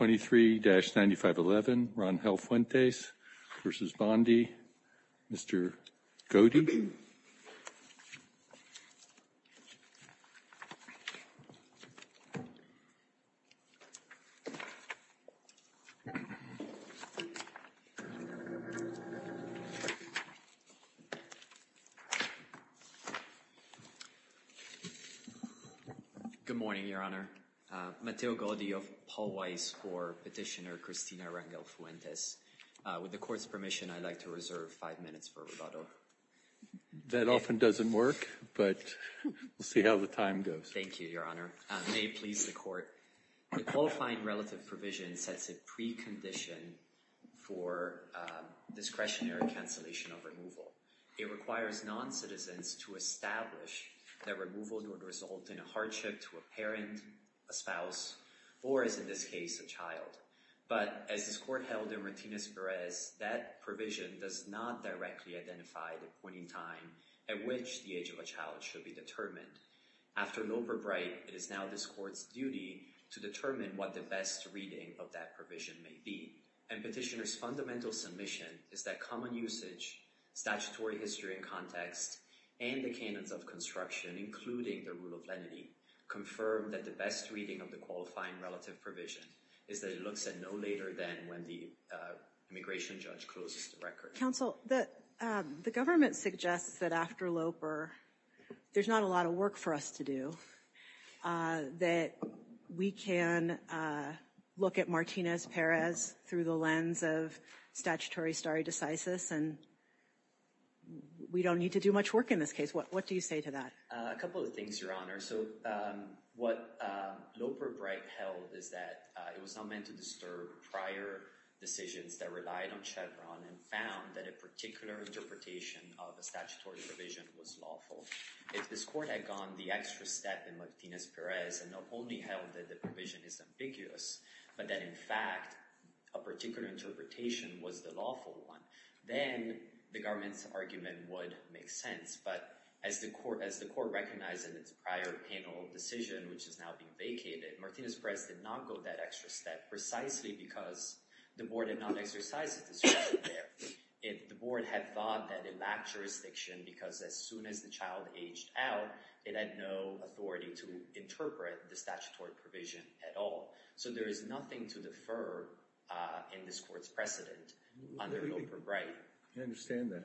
and Mr. Godey Good morning, Your Honor. Mateo Godey of Paul Weiss for petitioner Cristina Rangel-Fuentes. With the court's permission, I'd like to reserve five minutes for rebuttal. That often doesn't work, but we'll see how the time goes. Thank you, Your Honor. May it please the court. The qualifying relative provision sets a precondition for discretionary cancellation of removal. It requires non-citizens to establish that removal would result in a hardship to a parent, a spouse, or as in this case, a child. But as this court held in Martinez-Perez, that provision does not directly identify the point in time at which the age of a child should be determined. After Loper-Bright, it is now this court's duty to determine what the best reading of that provision may be. And petitioner's fundamental submission is that common usage, statutory history and context, and the canons of construction, including the rule of lenity, confirm that the best reading of the qualifying relative provision is that it looks at no later than when the immigration judge closes the record. Counsel, the government suggests that after Loper, there's not a lot of work for us to do. That we can look at Martinez-Perez through the lens of statutory stare decisis and we don't need to do much work in this case. What do you say to that? A couple of things, Your Honor. So what Loper-Bright held is that it was not meant to disturb prior decisions that relied on Chevron and found that a particular interpretation of a statutory provision was lawful. If this court had gone the extra step in Martinez-Perez and not only held that the provision is ambiguous, but that in fact a particular interpretation was the lawful one, then the government's argument would make sense. But as the court recognized in its prior panel decision, which is now being vacated, Martinez-Perez did not go that extra step precisely because the board had not exercised this right there. The board had thought that it lacked jurisdiction because as soon as the child aged out, it had no authority to interpret the statutory provision at all. So there is nothing to defer in this court's precedent under Loper-Bright. I understand that.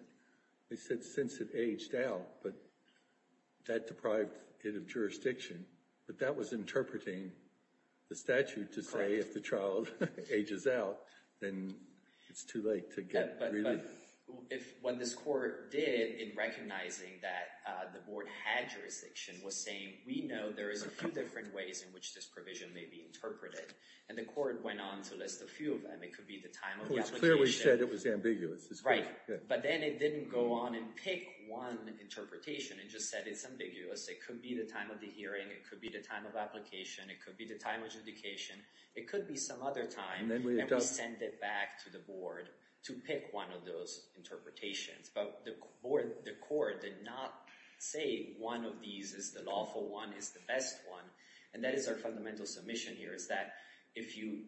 They said since it aged out, but that deprived it of jurisdiction. But that was interpreting the statute to say if the child ages out, then it's too late to get relief. What this court did in recognizing that the board had jurisdiction was saying, we know there is a few different ways in which this provision may be interpreted. And the court went on to list a few of them. It could be the time of the application. It clearly said it was ambiguous. Right. But then it didn't go on and pick one interpretation. It just said it's ambiguous. It could be the time of the hearing. It could be the time of application. It could be the time of adjudication. It could be some other time. And we sent it back to the board to pick one of those interpretations. But the court did not say one of these is the lawful one, is the best one. And that is our fundamental submission here is that if you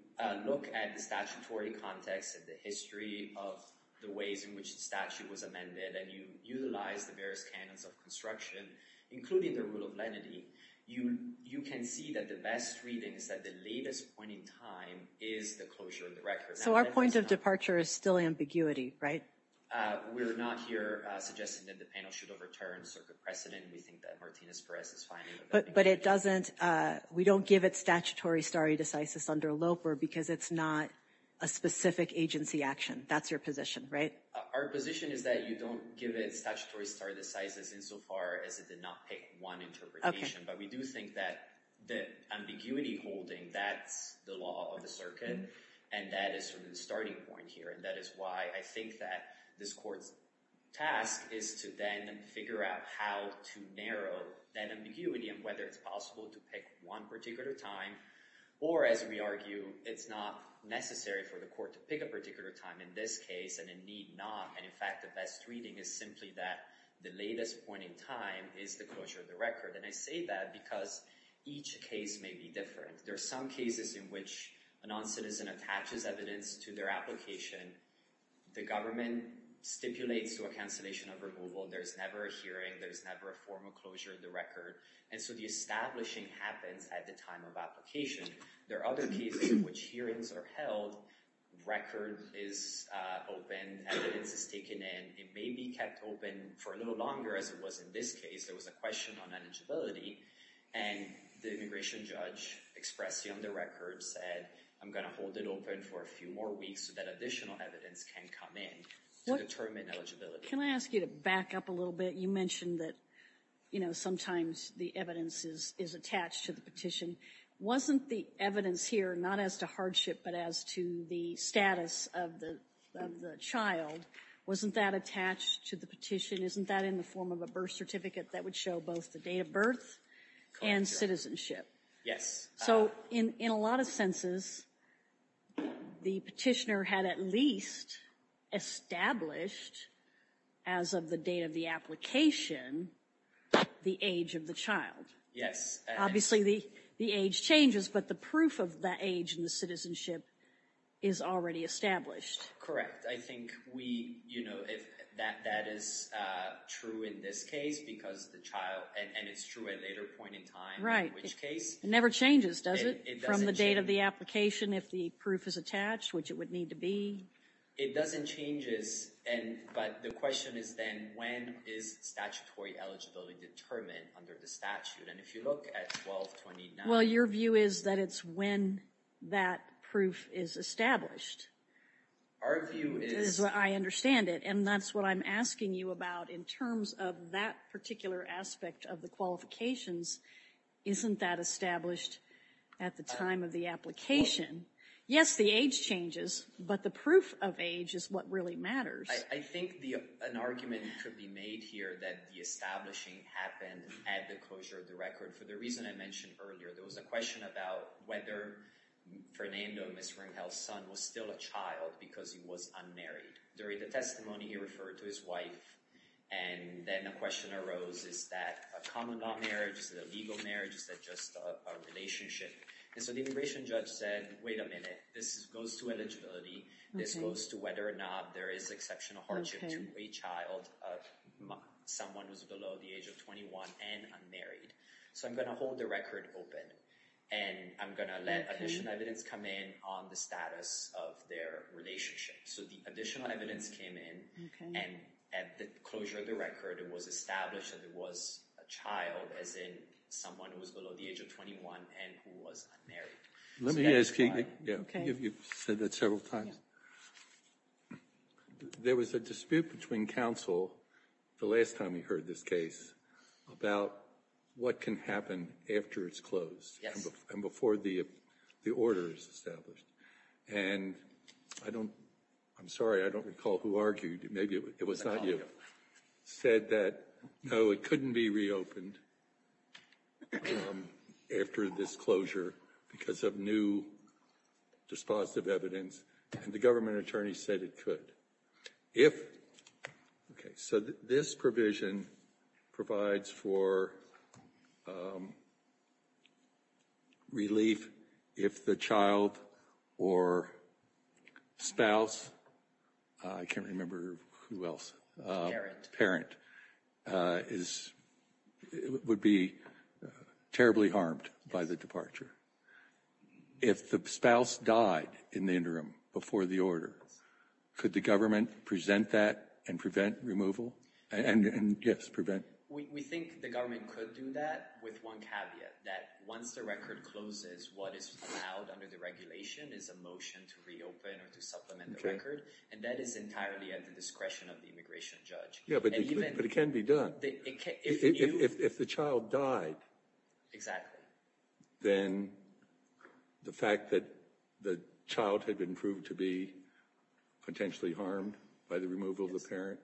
look at the statutory context and the history of the ways in which the statute was amended, and you utilize the various canons of construction, including the rule of lenity, you can see that the best reading is that the latest point in time is the closure of the record. So our point of departure is still ambiguity, right? We're not here suggesting that the panel should overturn circuit precedent. We think that Martinez-Perez is fine. But we don't give it statutory stare decisis under LOPR because it's not a specific agency action. That's your position, right? Our position is that you don't give it statutory stare decisis insofar as it did not pick one interpretation. But we do think that the ambiguity holding, that's the law of the circuit, and that is sort of the starting point here. And that is why I think that this court's task is to then figure out how to narrow that ambiguity and whether it's possible to pick one particular time. Or, as we argue, it's not necessary for the court to pick a particular time in this case and it need not. And, in fact, the best reading is simply that the latest point in time is the closure of the record. And I say that because each case may be different. There are some cases in which a non-citizen attaches evidence to their application. The government stipulates to a cancellation of removal. There's never a hearing. There's never a formal closure of the record. And so the establishing happens at the time of application. There are other cases in which hearings are held, record is open, evidence is taken in. It may be kept open for a little longer, as it was in this case. There was a question on eligibility. And the immigration judge expressed on the record said, I'm going to hold it open for a few more weeks so that additional evidence can come in to determine eligibility. Can I ask you to back up a little bit? You mentioned that, you know, sometimes the evidence is attached to the petition. Wasn't the evidence here not as to hardship but as to the status of the child? Wasn't that attached to the petition? Isn't that in the form of a birth certificate that would show both the date of birth and citizenship? Yes. So in a lot of senses, the petitioner had at least established as of the date of the application the age of the child. Yes. Obviously, the age changes, but the proof of that age and the citizenship is already established. Correct. I think we, you know, that is true in this case because the child, and it's true at a later point in time. Right. In which case. It never changes, does it? It doesn't change. From the date of the application, if the proof is attached, which it would need to be. It doesn't change, but the question is then, when is statutory eligibility determined under the statute? And if you look at 1229. Well, your view is that it's when that proof is established. Our view is. I understand it, and that's what I'm asking you about in terms of that particular aspect of the qualifications. Isn't that established at the time of the application? Yes, the age changes, but the proof of age is what really matters. I think an argument could be made here that the establishing happened at the closure of the record. For the reason I mentioned earlier, there was a question about whether Fernando, Ms. Ringel's son, was still a child because he was unmarried. During the testimony, he referred to his wife, and then a question arose. Is that a common law marriage? Is it a legal marriage? Is that just a relationship? And so the immigration judge said, wait a minute. This goes to eligibility. This goes to whether or not there is exceptional hardship to a child of someone who's below the age of 21 and unmarried. So I'm going to hold the record open, and I'm going to let additional evidence come in on the status of their relationship. So the additional evidence came in, and at the closure of the record, it was established that it was a child, as in someone who was below the age of 21 and who was unmarried. Let me ask you. You've said that several times. There was a dispute between counsel the last time we heard this case about what can happen after it's closed and before the order is established. And I'm sorry. I don't recall who argued. Maybe it was not you. Said that, no, it couldn't be reopened after this closure because of new dispositive evidence, and the government attorney said it could. If, okay, so this provision provides for relief if the child or spouse, I can't remember who else. Parent is, would be terribly harmed by the departure. If the spouse died in the interim before the order, could the government present that and prevent removal? And yes, prevent. We think the government could do that with one caveat, that once the record closes, what is allowed under the regulation is a motion to reopen or to supplement the record. And that is entirely at the discretion of the immigration judge. Yeah, but it can be done. If the child died. Exactly. Then the fact that the child had been proved to be potentially harmed by the removal of the parent,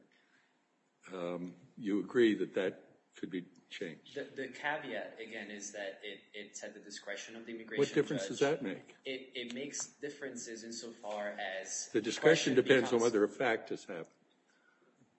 you agree that that could be changed. The caveat, again, is that it's at the discretion of the immigration judge. What difference does that make? It makes differences insofar as. The discretion depends on whether a fact has happened.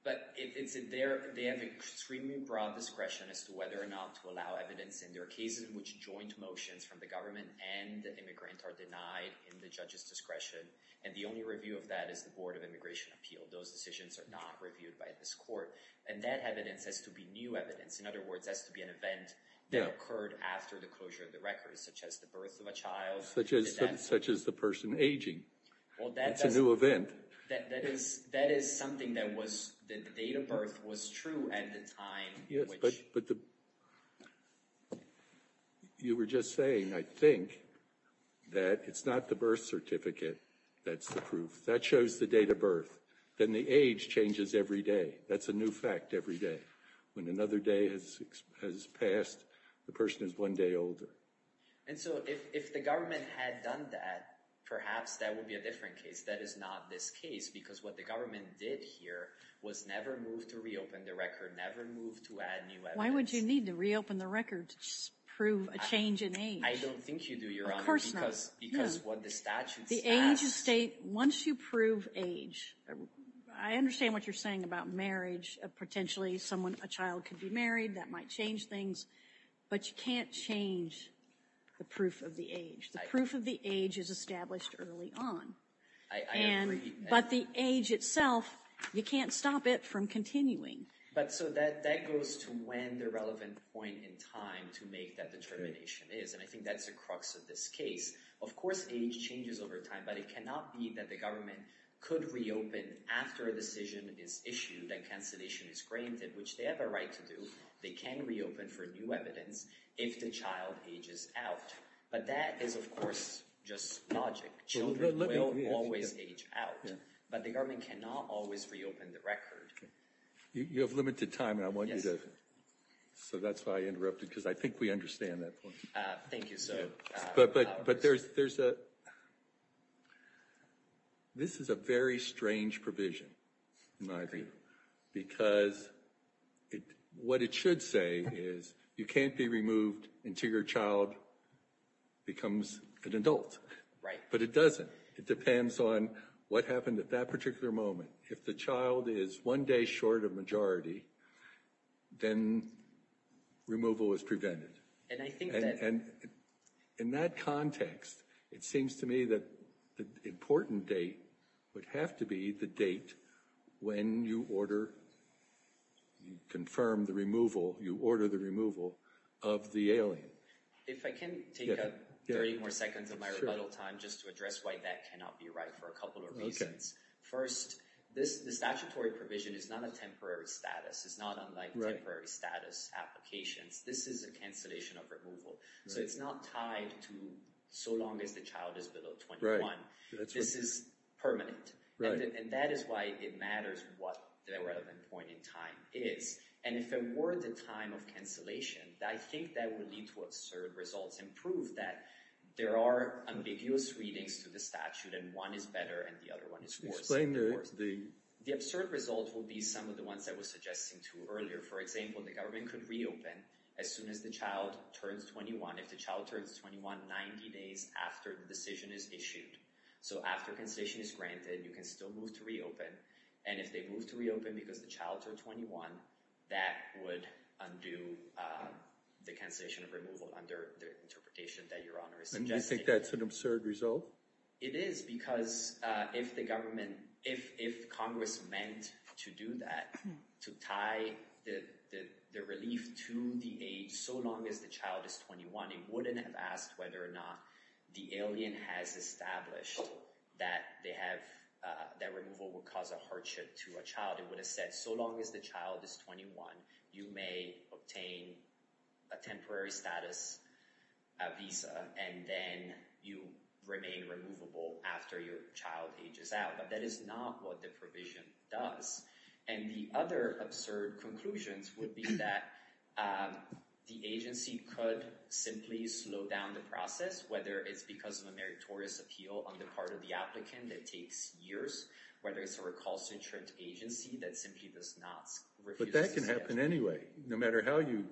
But they have extremely broad discretion as to whether or not to allow evidence. And there are cases in which joint motions from the government and the immigrant are denied in the judge's discretion. And the only review of that is the Board of Immigration Appeal. Those decisions are not reviewed by this court. And that evidence has to be new evidence. In other words, has to be an event that occurred after the closure of the record, such as the birth of a child. Such as the person aging. Well, that's a new event. That is something that the date of birth was true at the time. Yes, but you were just saying, I think, that it's not the birth certificate that's the proof. That shows the date of birth. Then the age changes every day. That's a new fact every day. When another day has passed, the person is one day older. And so if the government had done that, perhaps that would be a different case. That is not this case. Because what the government did here was never move to reopen the record. Never move to add new evidence. Why would you need to reopen the record to prove a change in age? I don't think you do, Your Honor. Of course not. Because what the statute says. The age is state. Once you prove age, I understand what you're saying about marriage. Potentially a child could be married. That might change things. But you can't change the proof of the age. The proof of the age is established early on. I agree. But the age itself, you can't stop it from continuing. But so that goes to when the relevant point in time to make that determination is. And I think that's the crux of this case. Of course age changes over time. But it cannot be that the government could reopen after a decision is issued and cancellation is granted. Which they have a right to do. They can reopen for new evidence if the child ages out. But that is, of course, just logic. Children will always age out. But the government cannot always reopen the record. You have limited time. And I want you to. So that's why I interrupted. Because I think we understand that point. Thank you, sir. But there's a. This is a very strange provision. Because what it should say is you can't be removed until your child becomes an adult. But it doesn't. It depends on what happened at that particular moment. If the child is one day short of majority, then removal is prevented. And I think that. And in that context, it seems to me that the important date would have to be the date when you order. You confirm the removal. You order the removal of the alien. If I can take up 30 more seconds of my rebuttal time just to address why that cannot be right for a couple of reasons. First, this statutory provision is not a temporary status. It's not unlike temporary status applications. This is a cancellation of removal. So it's not tied to so long as the child is below 21. This is permanent. And that is why it matters what the relevant point in time is. And if it were the time of cancellation, I think that would lead to absurd results. And prove that there are ambiguous readings to the statute. And one is better and the other one is worse. Explain the. The absurd result will be some of the ones I was suggesting to earlier. For example, the government could reopen as soon as the child turns 21. If the child turns 21, 90 days after the decision is issued. So after cancellation is granted, you can still move to reopen. And if they move to reopen because the child turned 21, that would undo the cancellation of removal under the interpretation that Your Honor is suggesting. And you think that's an absurd result? It is because if the government, if Congress meant to do that, to tie the relief to the age so long as the child is 21. It wouldn't have asked whether or not the alien has established that they have, that removal would cause a hardship to a child. It would have said so long as the child is 21, you may obtain a temporary status visa and then you remain removable after your child ages out. But that is not what the provision does. And the other absurd conclusions would be that the agency could simply slow down the process, whether it's because of a meritorious appeal on the part of the applicant that takes years. Whether it's a recalcitrant agency that simply does not. But that can happen anyway, no matter how you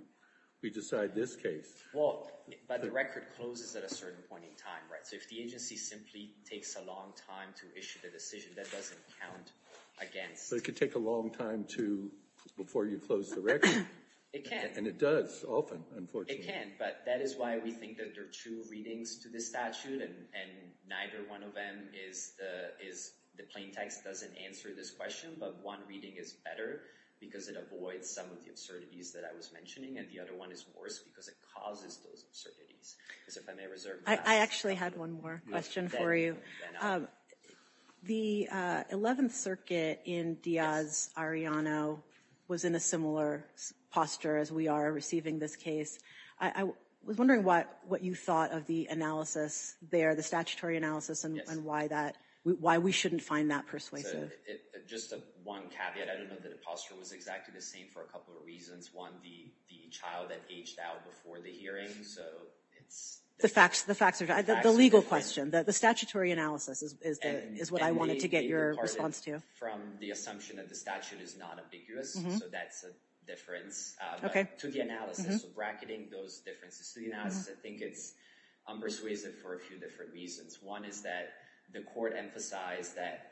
decide this case. Well, but the record closes at a certain point in time, right? So if the agency simply takes a long time to issue the decision, that doesn't count against. So it could take a long time to, before you close the record. It can. And it does, often, unfortunately. It can, but that is why we think that there are two readings to this statute and neither one of them is, the plain text doesn't answer this question. But one reading is better because it avoids some of the absurdities that I was mentioning. And the other one is worse because it causes those absurdities. I actually had one more question for you. The 11th Circuit in Diaz-Arellano was in a similar posture as we are receiving this case. I was wondering what you thought of the analysis there, the statutory analysis, and why we shouldn't find that persuasive. Just one caveat. I don't know that the posture was exactly the same for a couple of reasons. One, the child had aged out before the hearing. The facts are the legal question. The statutory analysis is what I wanted to get your response to. And they departed from the assumption that the statute is not ambiguous, so that's a difference to the analysis. So bracketing those differences to the analysis, I think it's unpersuasive for a few different reasons. One is that the court emphasized that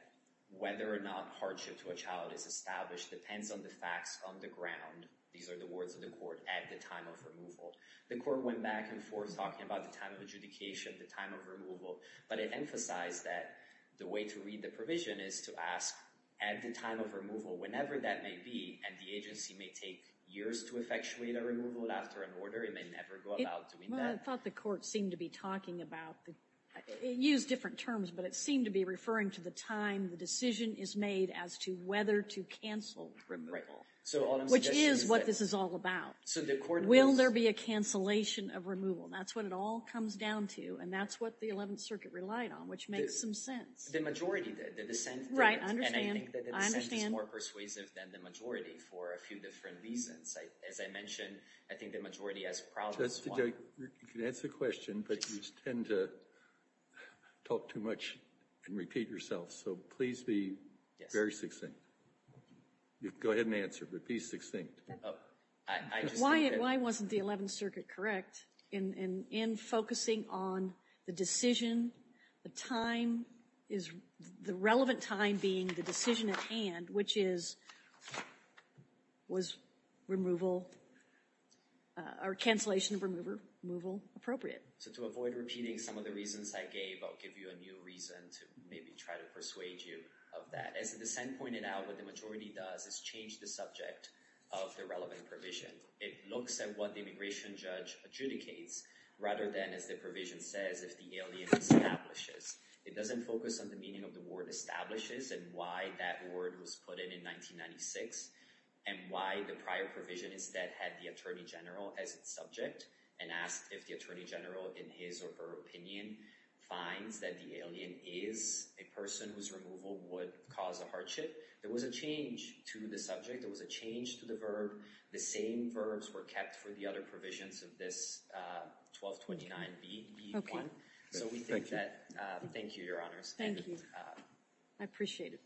whether or not hardship to a child is established depends on the facts on the ground. These are the words of the court at the time of removal. The court went back and forth talking about the time of adjudication, the time of removal, but it emphasized that the way to read the provision is to ask at the time of removal, whenever that may be, and the agency may take years to effectuate a removal after an order. It may never go about doing that. Well, I thought the court seemed to be talking about – it used different terms, but it seemed to be referring to the time the decision is made as to whether to cancel removal, which is what this is all about. So the court – Will there be a cancellation of removal? That's what it all comes down to, and that's what the Eleventh Circuit relied on, which makes some sense. The majority did. Right, I understand. And I think that the dissent is more persuasive than the majority for a few different reasons. As I mentioned, I think the majority has problems. Judge, you can answer the question, but you tend to talk too much and repeat yourself, so please be very succinct. Go ahead and answer, but be succinct. Why wasn't the Eleventh Circuit correct in focusing on the decision, the time, the relevant time being the decision at hand, which is, was removal or cancellation of removal appropriate? So to avoid repeating some of the reasons I gave, I'll give you a new reason to maybe try to persuade you of that. As the dissent pointed out, what the majority does is change the subject of the relevant provision. It looks at what the immigration judge adjudicates rather than, as the provision says, if the alien establishes. It doesn't focus on the meaning of the word establishes and why that word was put in in 1996 and why the prior provision instead had the attorney general as its subject and asked if the attorney general in his or her opinion finds that the alien is a person whose removal would cause a hardship. There was a change to the subject. There was a change to the verb. The same verbs were kept for the other provisions of this 1229B1. So we think that. Thank you, Your Honors. Thank you. I appreciate it.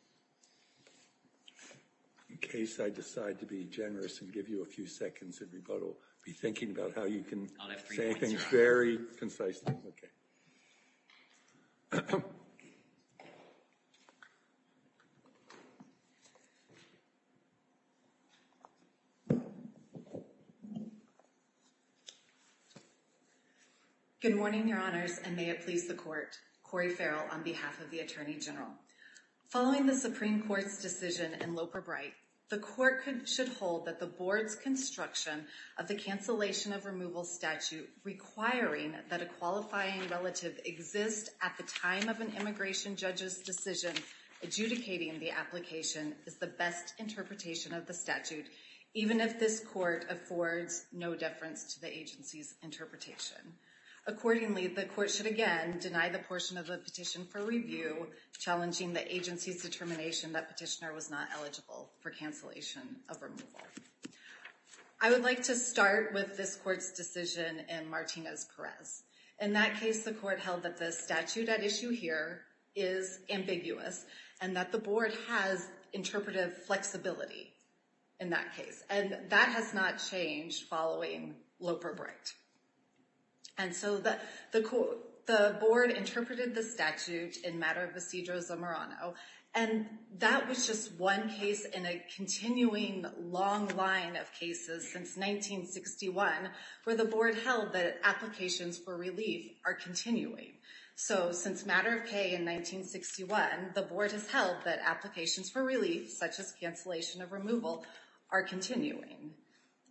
In case I decide to be generous and give you a few seconds of rebuttal, be thinking about how you can say things very concisely. Good morning, Your Honors, and may it please the court. Cori Farrell on behalf of the attorney general. Following the Supreme Court's decision in Loper-Bright, the court should hold that the board's construction of the cancellation of removal statute requiring that a qualifying relative exist at the time of an immigration judge's decision adjudicating the application is the best interpretation of the statute, even if this court affords no deference to the agency's interpretation. Accordingly, the court should again deny the portion of the petition for review challenging the agency's determination that petitioner was not eligible for cancellation of removal. I would like to start with this court's decision in Martinez-Perez. In that case, the court held that the statute at issue here is ambiguous and that the board has interpretive flexibility in that case. And that has not changed following Loper-Bright. And so the board interpreted the statute in Matter of Procedure, Zamorano, and that was just one case in a continuing long line of cases since 1961 where the board held that applications for relief are continuing. So since Matter of K in 1961, the board has held that applications for relief, such as cancellation of removal, are continuing.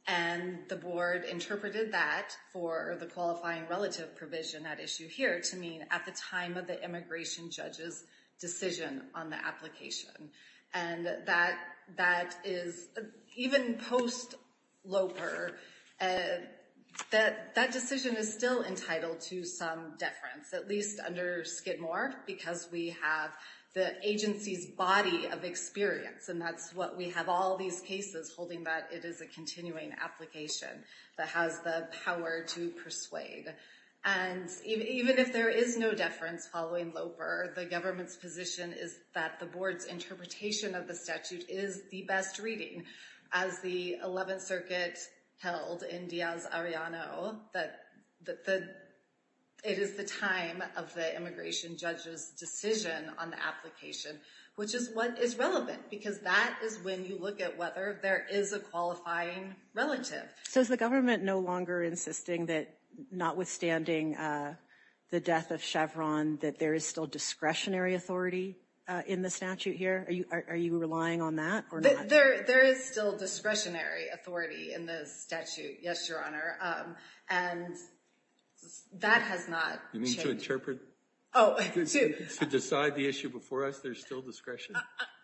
And the board interpreted that for the qualifying relative provision at issue here to mean at the time of the immigration judge's decision on the application. And that is, even post-Loper, that decision is still entitled to some deference, at least under Skidmore, because we have the agency's body of experience. And that's what we have all these cases holding that it is a continuing application that has the power to persuade. And even if there is no deference following Loper, the government's position is that the board's interpretation of the statute is the best reading. As the 11th Circuit held in Diaz-Arellano, that it is the time of the immigration judge's decision on the application, which is what is relevant, because that is when you look at whether there is a qualifying relative. So is the government no longer insisting that, notwithstanding the death of Chevron, that there is still discretionary authority in the statute here? Are you relying on that or not? There is still discretionary authority in the statute, yes, Your Honor. And that has not changed. You mean to interpret? Oh. To decide the issue before us, there's still discretion?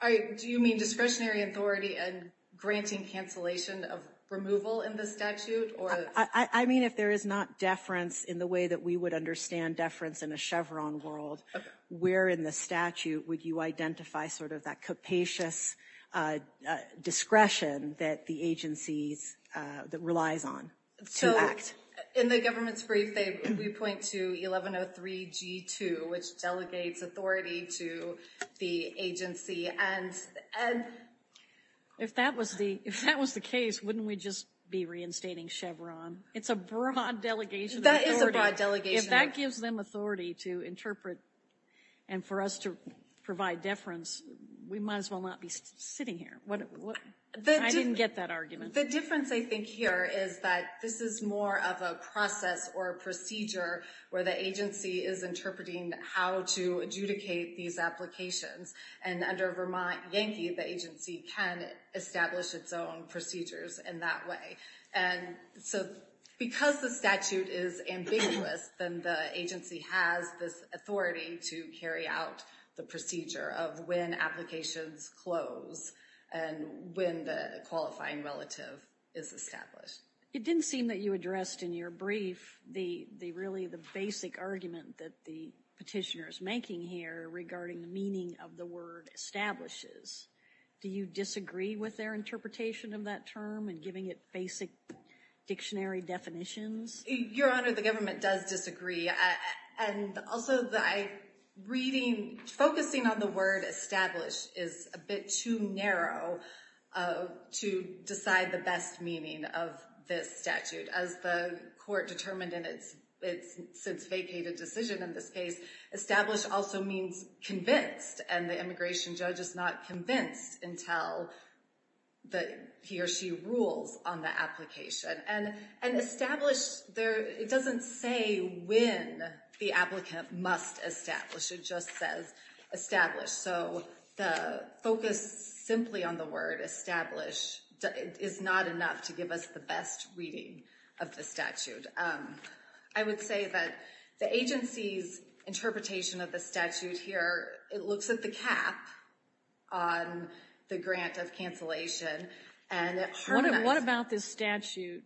Do you mean discretionary authority and granting cancellation of removal in the statute? I mean, if there is not deference in the way that we would understand deference in a Chevron world, where in the statute would you identify sort of that capacious discretion that the agency relies on to act? So in the government's brief, we point to 1103G2, which delegates authority to the agency. If that was the case, wouldn't we just be reinstating Chevron? It's a broad delegation of authority. That is a broad delegation. If that gives them authority to interpret and for us to provide deference, we might as well not be sitting here. I didn't get that argument. The difference, I think, here is that this is more of a process or a procedure where the agency is interpreting how to adjudicate these applications. And under Vermont Yankee, the agency can establish its own procedures in that way. And so because the statute is ambiguous, then the agency has this authority to carry out the procedure of when applications close and when the qualifying relative is established. It didn't seem that you addressed in your brief really the basic argument that the petitioner is making here regarding the meaning of the word establishes. Do you disagree with their interpretation of that term and giving it basic dictionary definitions? Your Honor, the government does disagree. And also, reading, focusing on the word establish is a bit too narrow to decide the best meaning of this statute. As the court determined in its since vacated decision in this case, establish also means convinced. And the immigration judge is not convinced until he or she rules on the application. And establish, it doesn't say when the applicant must establish. It just says establish. So the focus simply on the word establish is not enough to give us the best reading of the statute. I would say that the agency's interpretation of the statute here, it looks at the cap on the grant of cancellation. What about this statute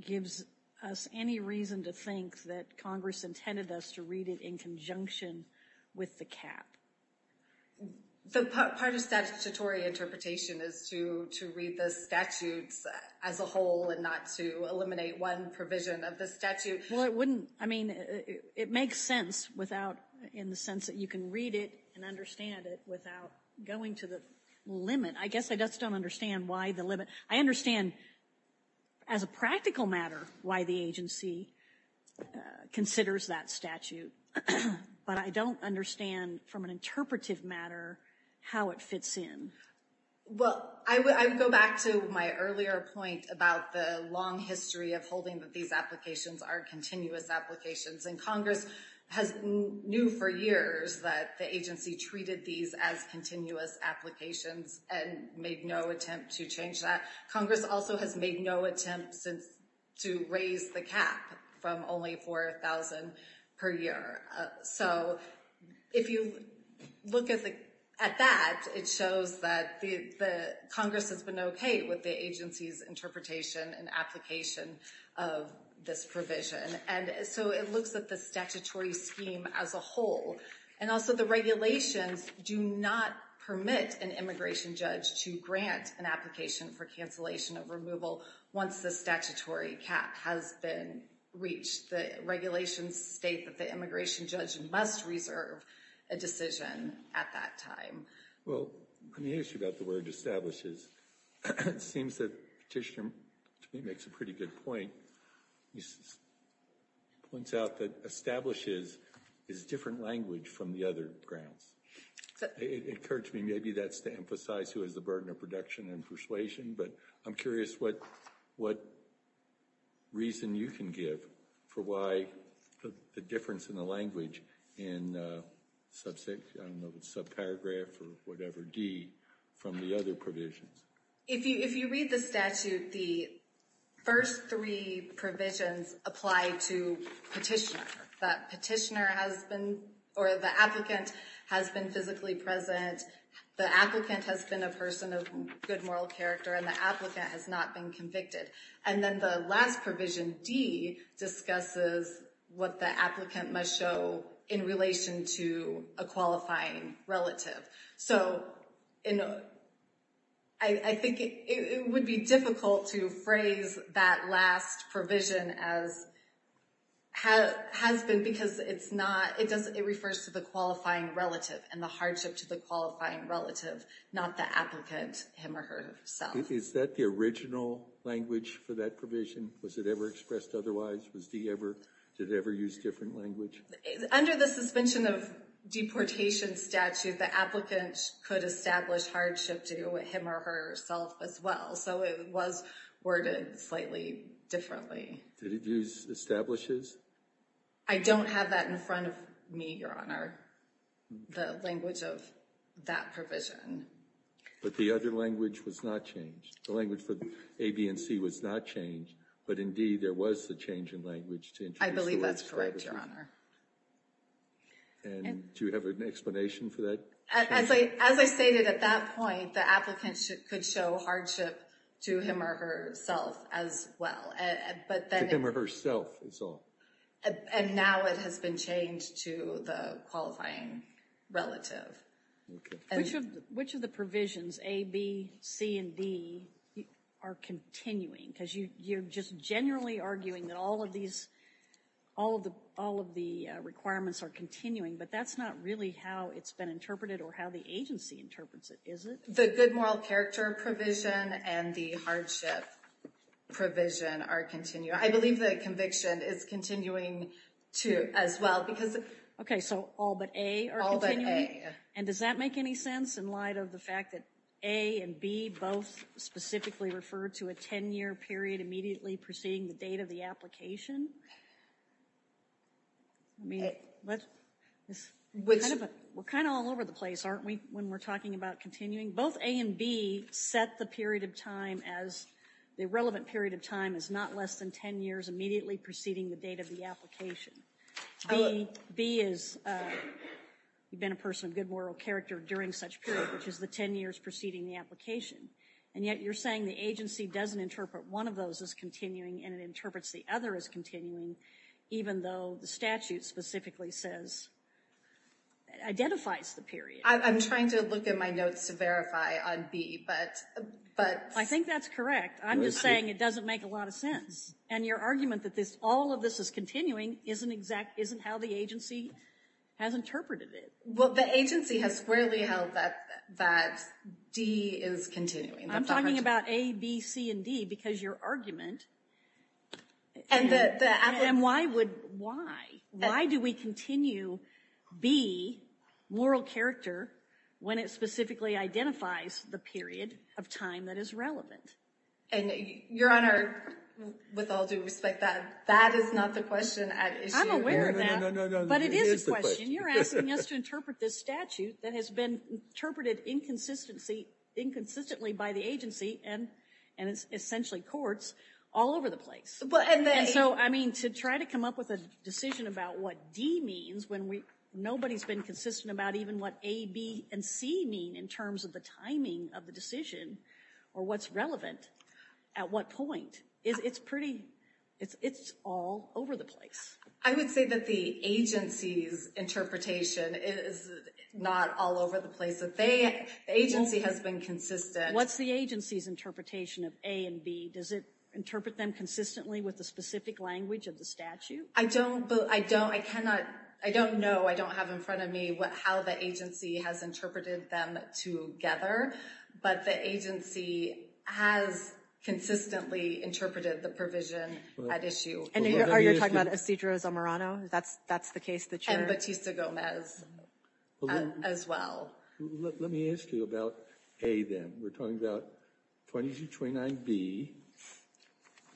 gives us any reason to think that Congress intended us to read it in conjunction with the cap? The part of statutory interpretation is to read the statutes as a whole and not to eliminate one provision of the statute. It makes sense in the sense that you can read it and understand it without going to the limit. I guess I just don't understand why the limit. I understand as a practical matter why the agency considers that statute. But I don't understand from an interpretive matter how it fits in. Well, I would go back to my earlier point about the long history of holding that these applications are continuous applications. And Congress has knew for years that the agency treated these as continuous applications and made no attempt to change that. Congress also has made no attempt since to raise the cap from only $4,000 per year. So if you look at that, it shows that Congress has been okay with the agency's interpretation and application of this provision. And so it looks at the statutory scheme as a whole. And also the regulations do not permit an immigration judge to grant an application for cancellation of removal once the statutory cap has been reached. The regulations state that the immigration judge must reserve a decision at that time. Well, let me ask you about the word establishes. It seems that Petitioner, to me, makes a pretty good point. He points out that establishes is a different language from the other grounds. It occurred to me maybe that's to emphasize who has the burden of production and persuasion. But I'm curious what reason you can give for why the difference in the language in the subparagraph or whatever, D, from the other provisions. If you read the statute, the first three provisions apply to Petitioner. That Petitioner has been or the applicant has been physically present. The applicant has been a person of good moral character and the applicant has not been convicted. And then the last provision, D, discusses what the applicant must show in relation to a qualifying relative. So I think it would be difficult to phrase that last provision as has been because it refers to the qualifying relative and the hardship to the qualifying relative, not the applicant him or herself. Is that the original language for that provision? Was it ever expressed otherwise? Did it ever use different language? Under the suspension of deportation statute, the applicant could establish hardship to him or herself as well. So it was worded slightly differently. Did it use establishes? I don't have that in front of me, Your Honor, the language of that provision. But the other language was not changed. The language for A, B, and C was not changed. But in D, there was the change in language to introduce the last provision. Yes, Your Honor. And do you have an explanation for that? As I stated at that point, the applicant could show hardship to him or herself as well. To him or herself is all. And now it has been changed to the qualifying relative. Which of the provisions, A, B, C, and D, are continuing? Because you're just generally arguing that all of the requirements are continuing. But that's not really how it's been interpreted or how the agency interprets it, is it? The good moral character provision and the hardship provision are continuing. I believe the conviction is continuing, too, as well. Okay, so all but A are continuing? All but A. And does that make any sense in light of the fact that A and B both specifically refer to a 10-year period immediately preceding the date of the application? We're kind of all over the place, aren't we, when we're talking about continuing? Both A and B set the relevant period of time as not less than 10 years immediately preceding the date of the application. B is, you've been a person of good moral character during such period, which is the 10 years preceding the application. And yet you're saying the agency doesn't interpret one of those as continuing and it interprets the other as continuing, even though the statute specifically says, identifies the period. I'm trying to look at my notes to verify on B, but. I think that's correct. I'm just saying it doesn't make a lot of sense. And your argument that all of this is continuing isn't how the agency has interpreted it. Well, the agency has squarely held that D is continuing. I'm talking about A, B, C, and D because your argument. And why do we continue B, moral character, when it specifically identifies the period of time that is relevant? And your honor, with all due respect, that is not the question. I'm aware of that, but it is a question. You're asking us to interpret this statute that has been interpreted inconsistently by the agency and essentially courts all over the place. And so, I mean, to try to come up with a decision about what D means, when nobody's been consistent about even what A, B, and C mean in terms of the timing of the decision, or what's relevant, at what point, it's all over the place. I would say that the agency's interpretation is not all over the place. The agency has been consistent. What's the agency's interpretation of A and B? Does it interpret them consistently with the specific language of the statute? I don't know. I don't have in front of me how the agency has interpreted them together. But the agency has consistently interpreted the provision at issue. Are you talking about Isidro Zamorano? That's the case that you're... And Batista Gomez as well. Let me ask you about A, then. We're talking about 2229B,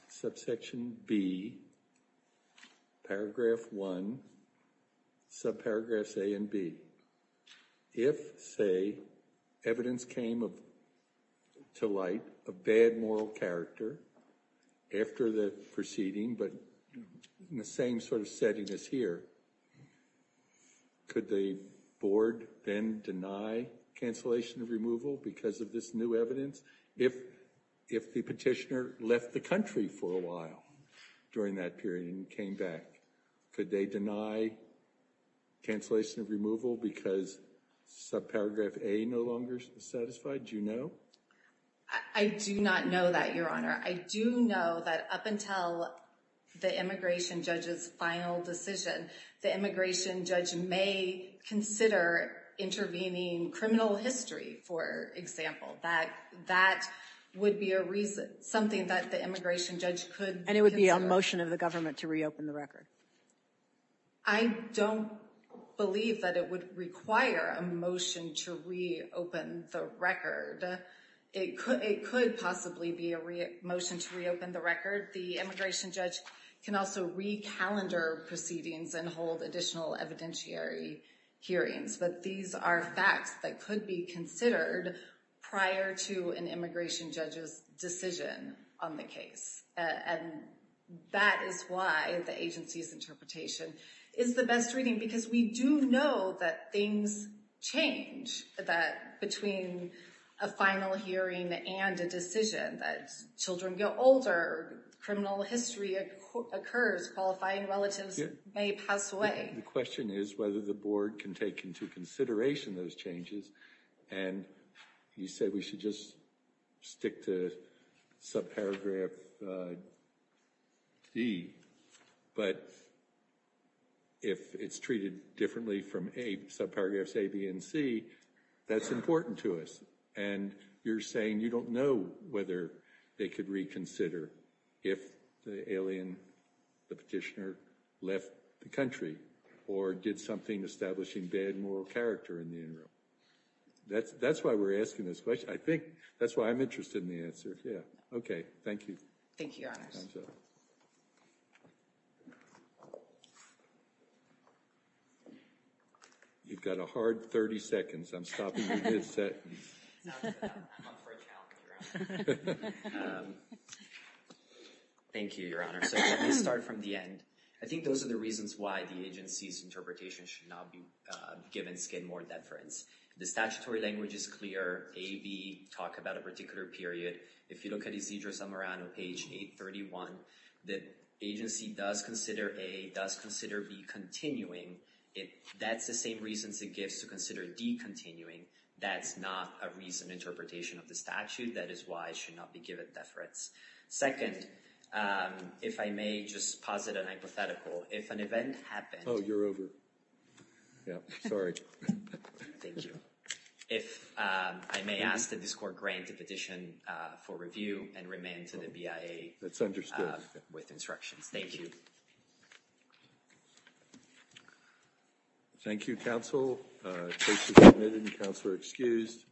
subsection B, paragraph 1, subparagraphs A and B. If, say, evidence came to light of bad moral character after the proceeding, but in the same sort of setting as here, could the board then deny cancellation of removal because of this new evidence? If the petitioner left the country for a while during that period and came back, could they deny cancellation of removal because subparagraph A no longer is satisfied? Do you know? I do not know that, Your Honor. I do know that up until the immigration judge's final decision, the immigration judge may consider intervening criminal history, for example. That would be something that the immigration judge could consider. And it would be a motion of the government to reopen the record? I don't believe that it would require a motion to reopen the record. It could possibly be a motion to reopen the record. The immigration judge can also recalendar proceedings and hold additional evidentiary hearings. But these are facts that could be considered prior to an immigration judge's decision on the case. And that is why the agency's interpretation is the best reading, because we do know that things change between a final hearing and a decision. Children get older. Criminal history occurs. Qualifying relatives may pass away. The question is whether the board can take into consideration those changes. And you said we should just stick to subparagraph D. But if it's treated differently from subparagraphs A, B, and C, that's important to us. And you're saying you don't know whether they could reconsider if the alien, the petitioner, left the country or did something establishing bad moral character in the interim. That's why we're asking this question. I think that's why I'm interested in the answer. Yeah. Okay. Thank you. Thank you, Your Honors. You've got a hard 30 seconds. I'm stopping you mid-sentence. I'm up for a challenge, Your Honor. Thank you, Your Honor. So let me start from the end. I think those are the reasons why the agency's interpretation should not be given skin more than friends. The statutory language is clear. A, B, talk about a particular period. If you look at Isidro Zamorano, page 831, the agency does consider A, does consider B continuing. That's the same reasons it gives to consider D continuing. That's not a reason interpretation of the statute. That is why it should not be given death threats. Second, if I may just posit an hypothetical. If an event happened. Oh, you're over. Yeah. Sorry. Thank you. If I may ask that this court grant a petition for review and remain to the BIA. That's understood. With instructions. Thank you. Thank you, counsel. Case is submitted and counsel are excused.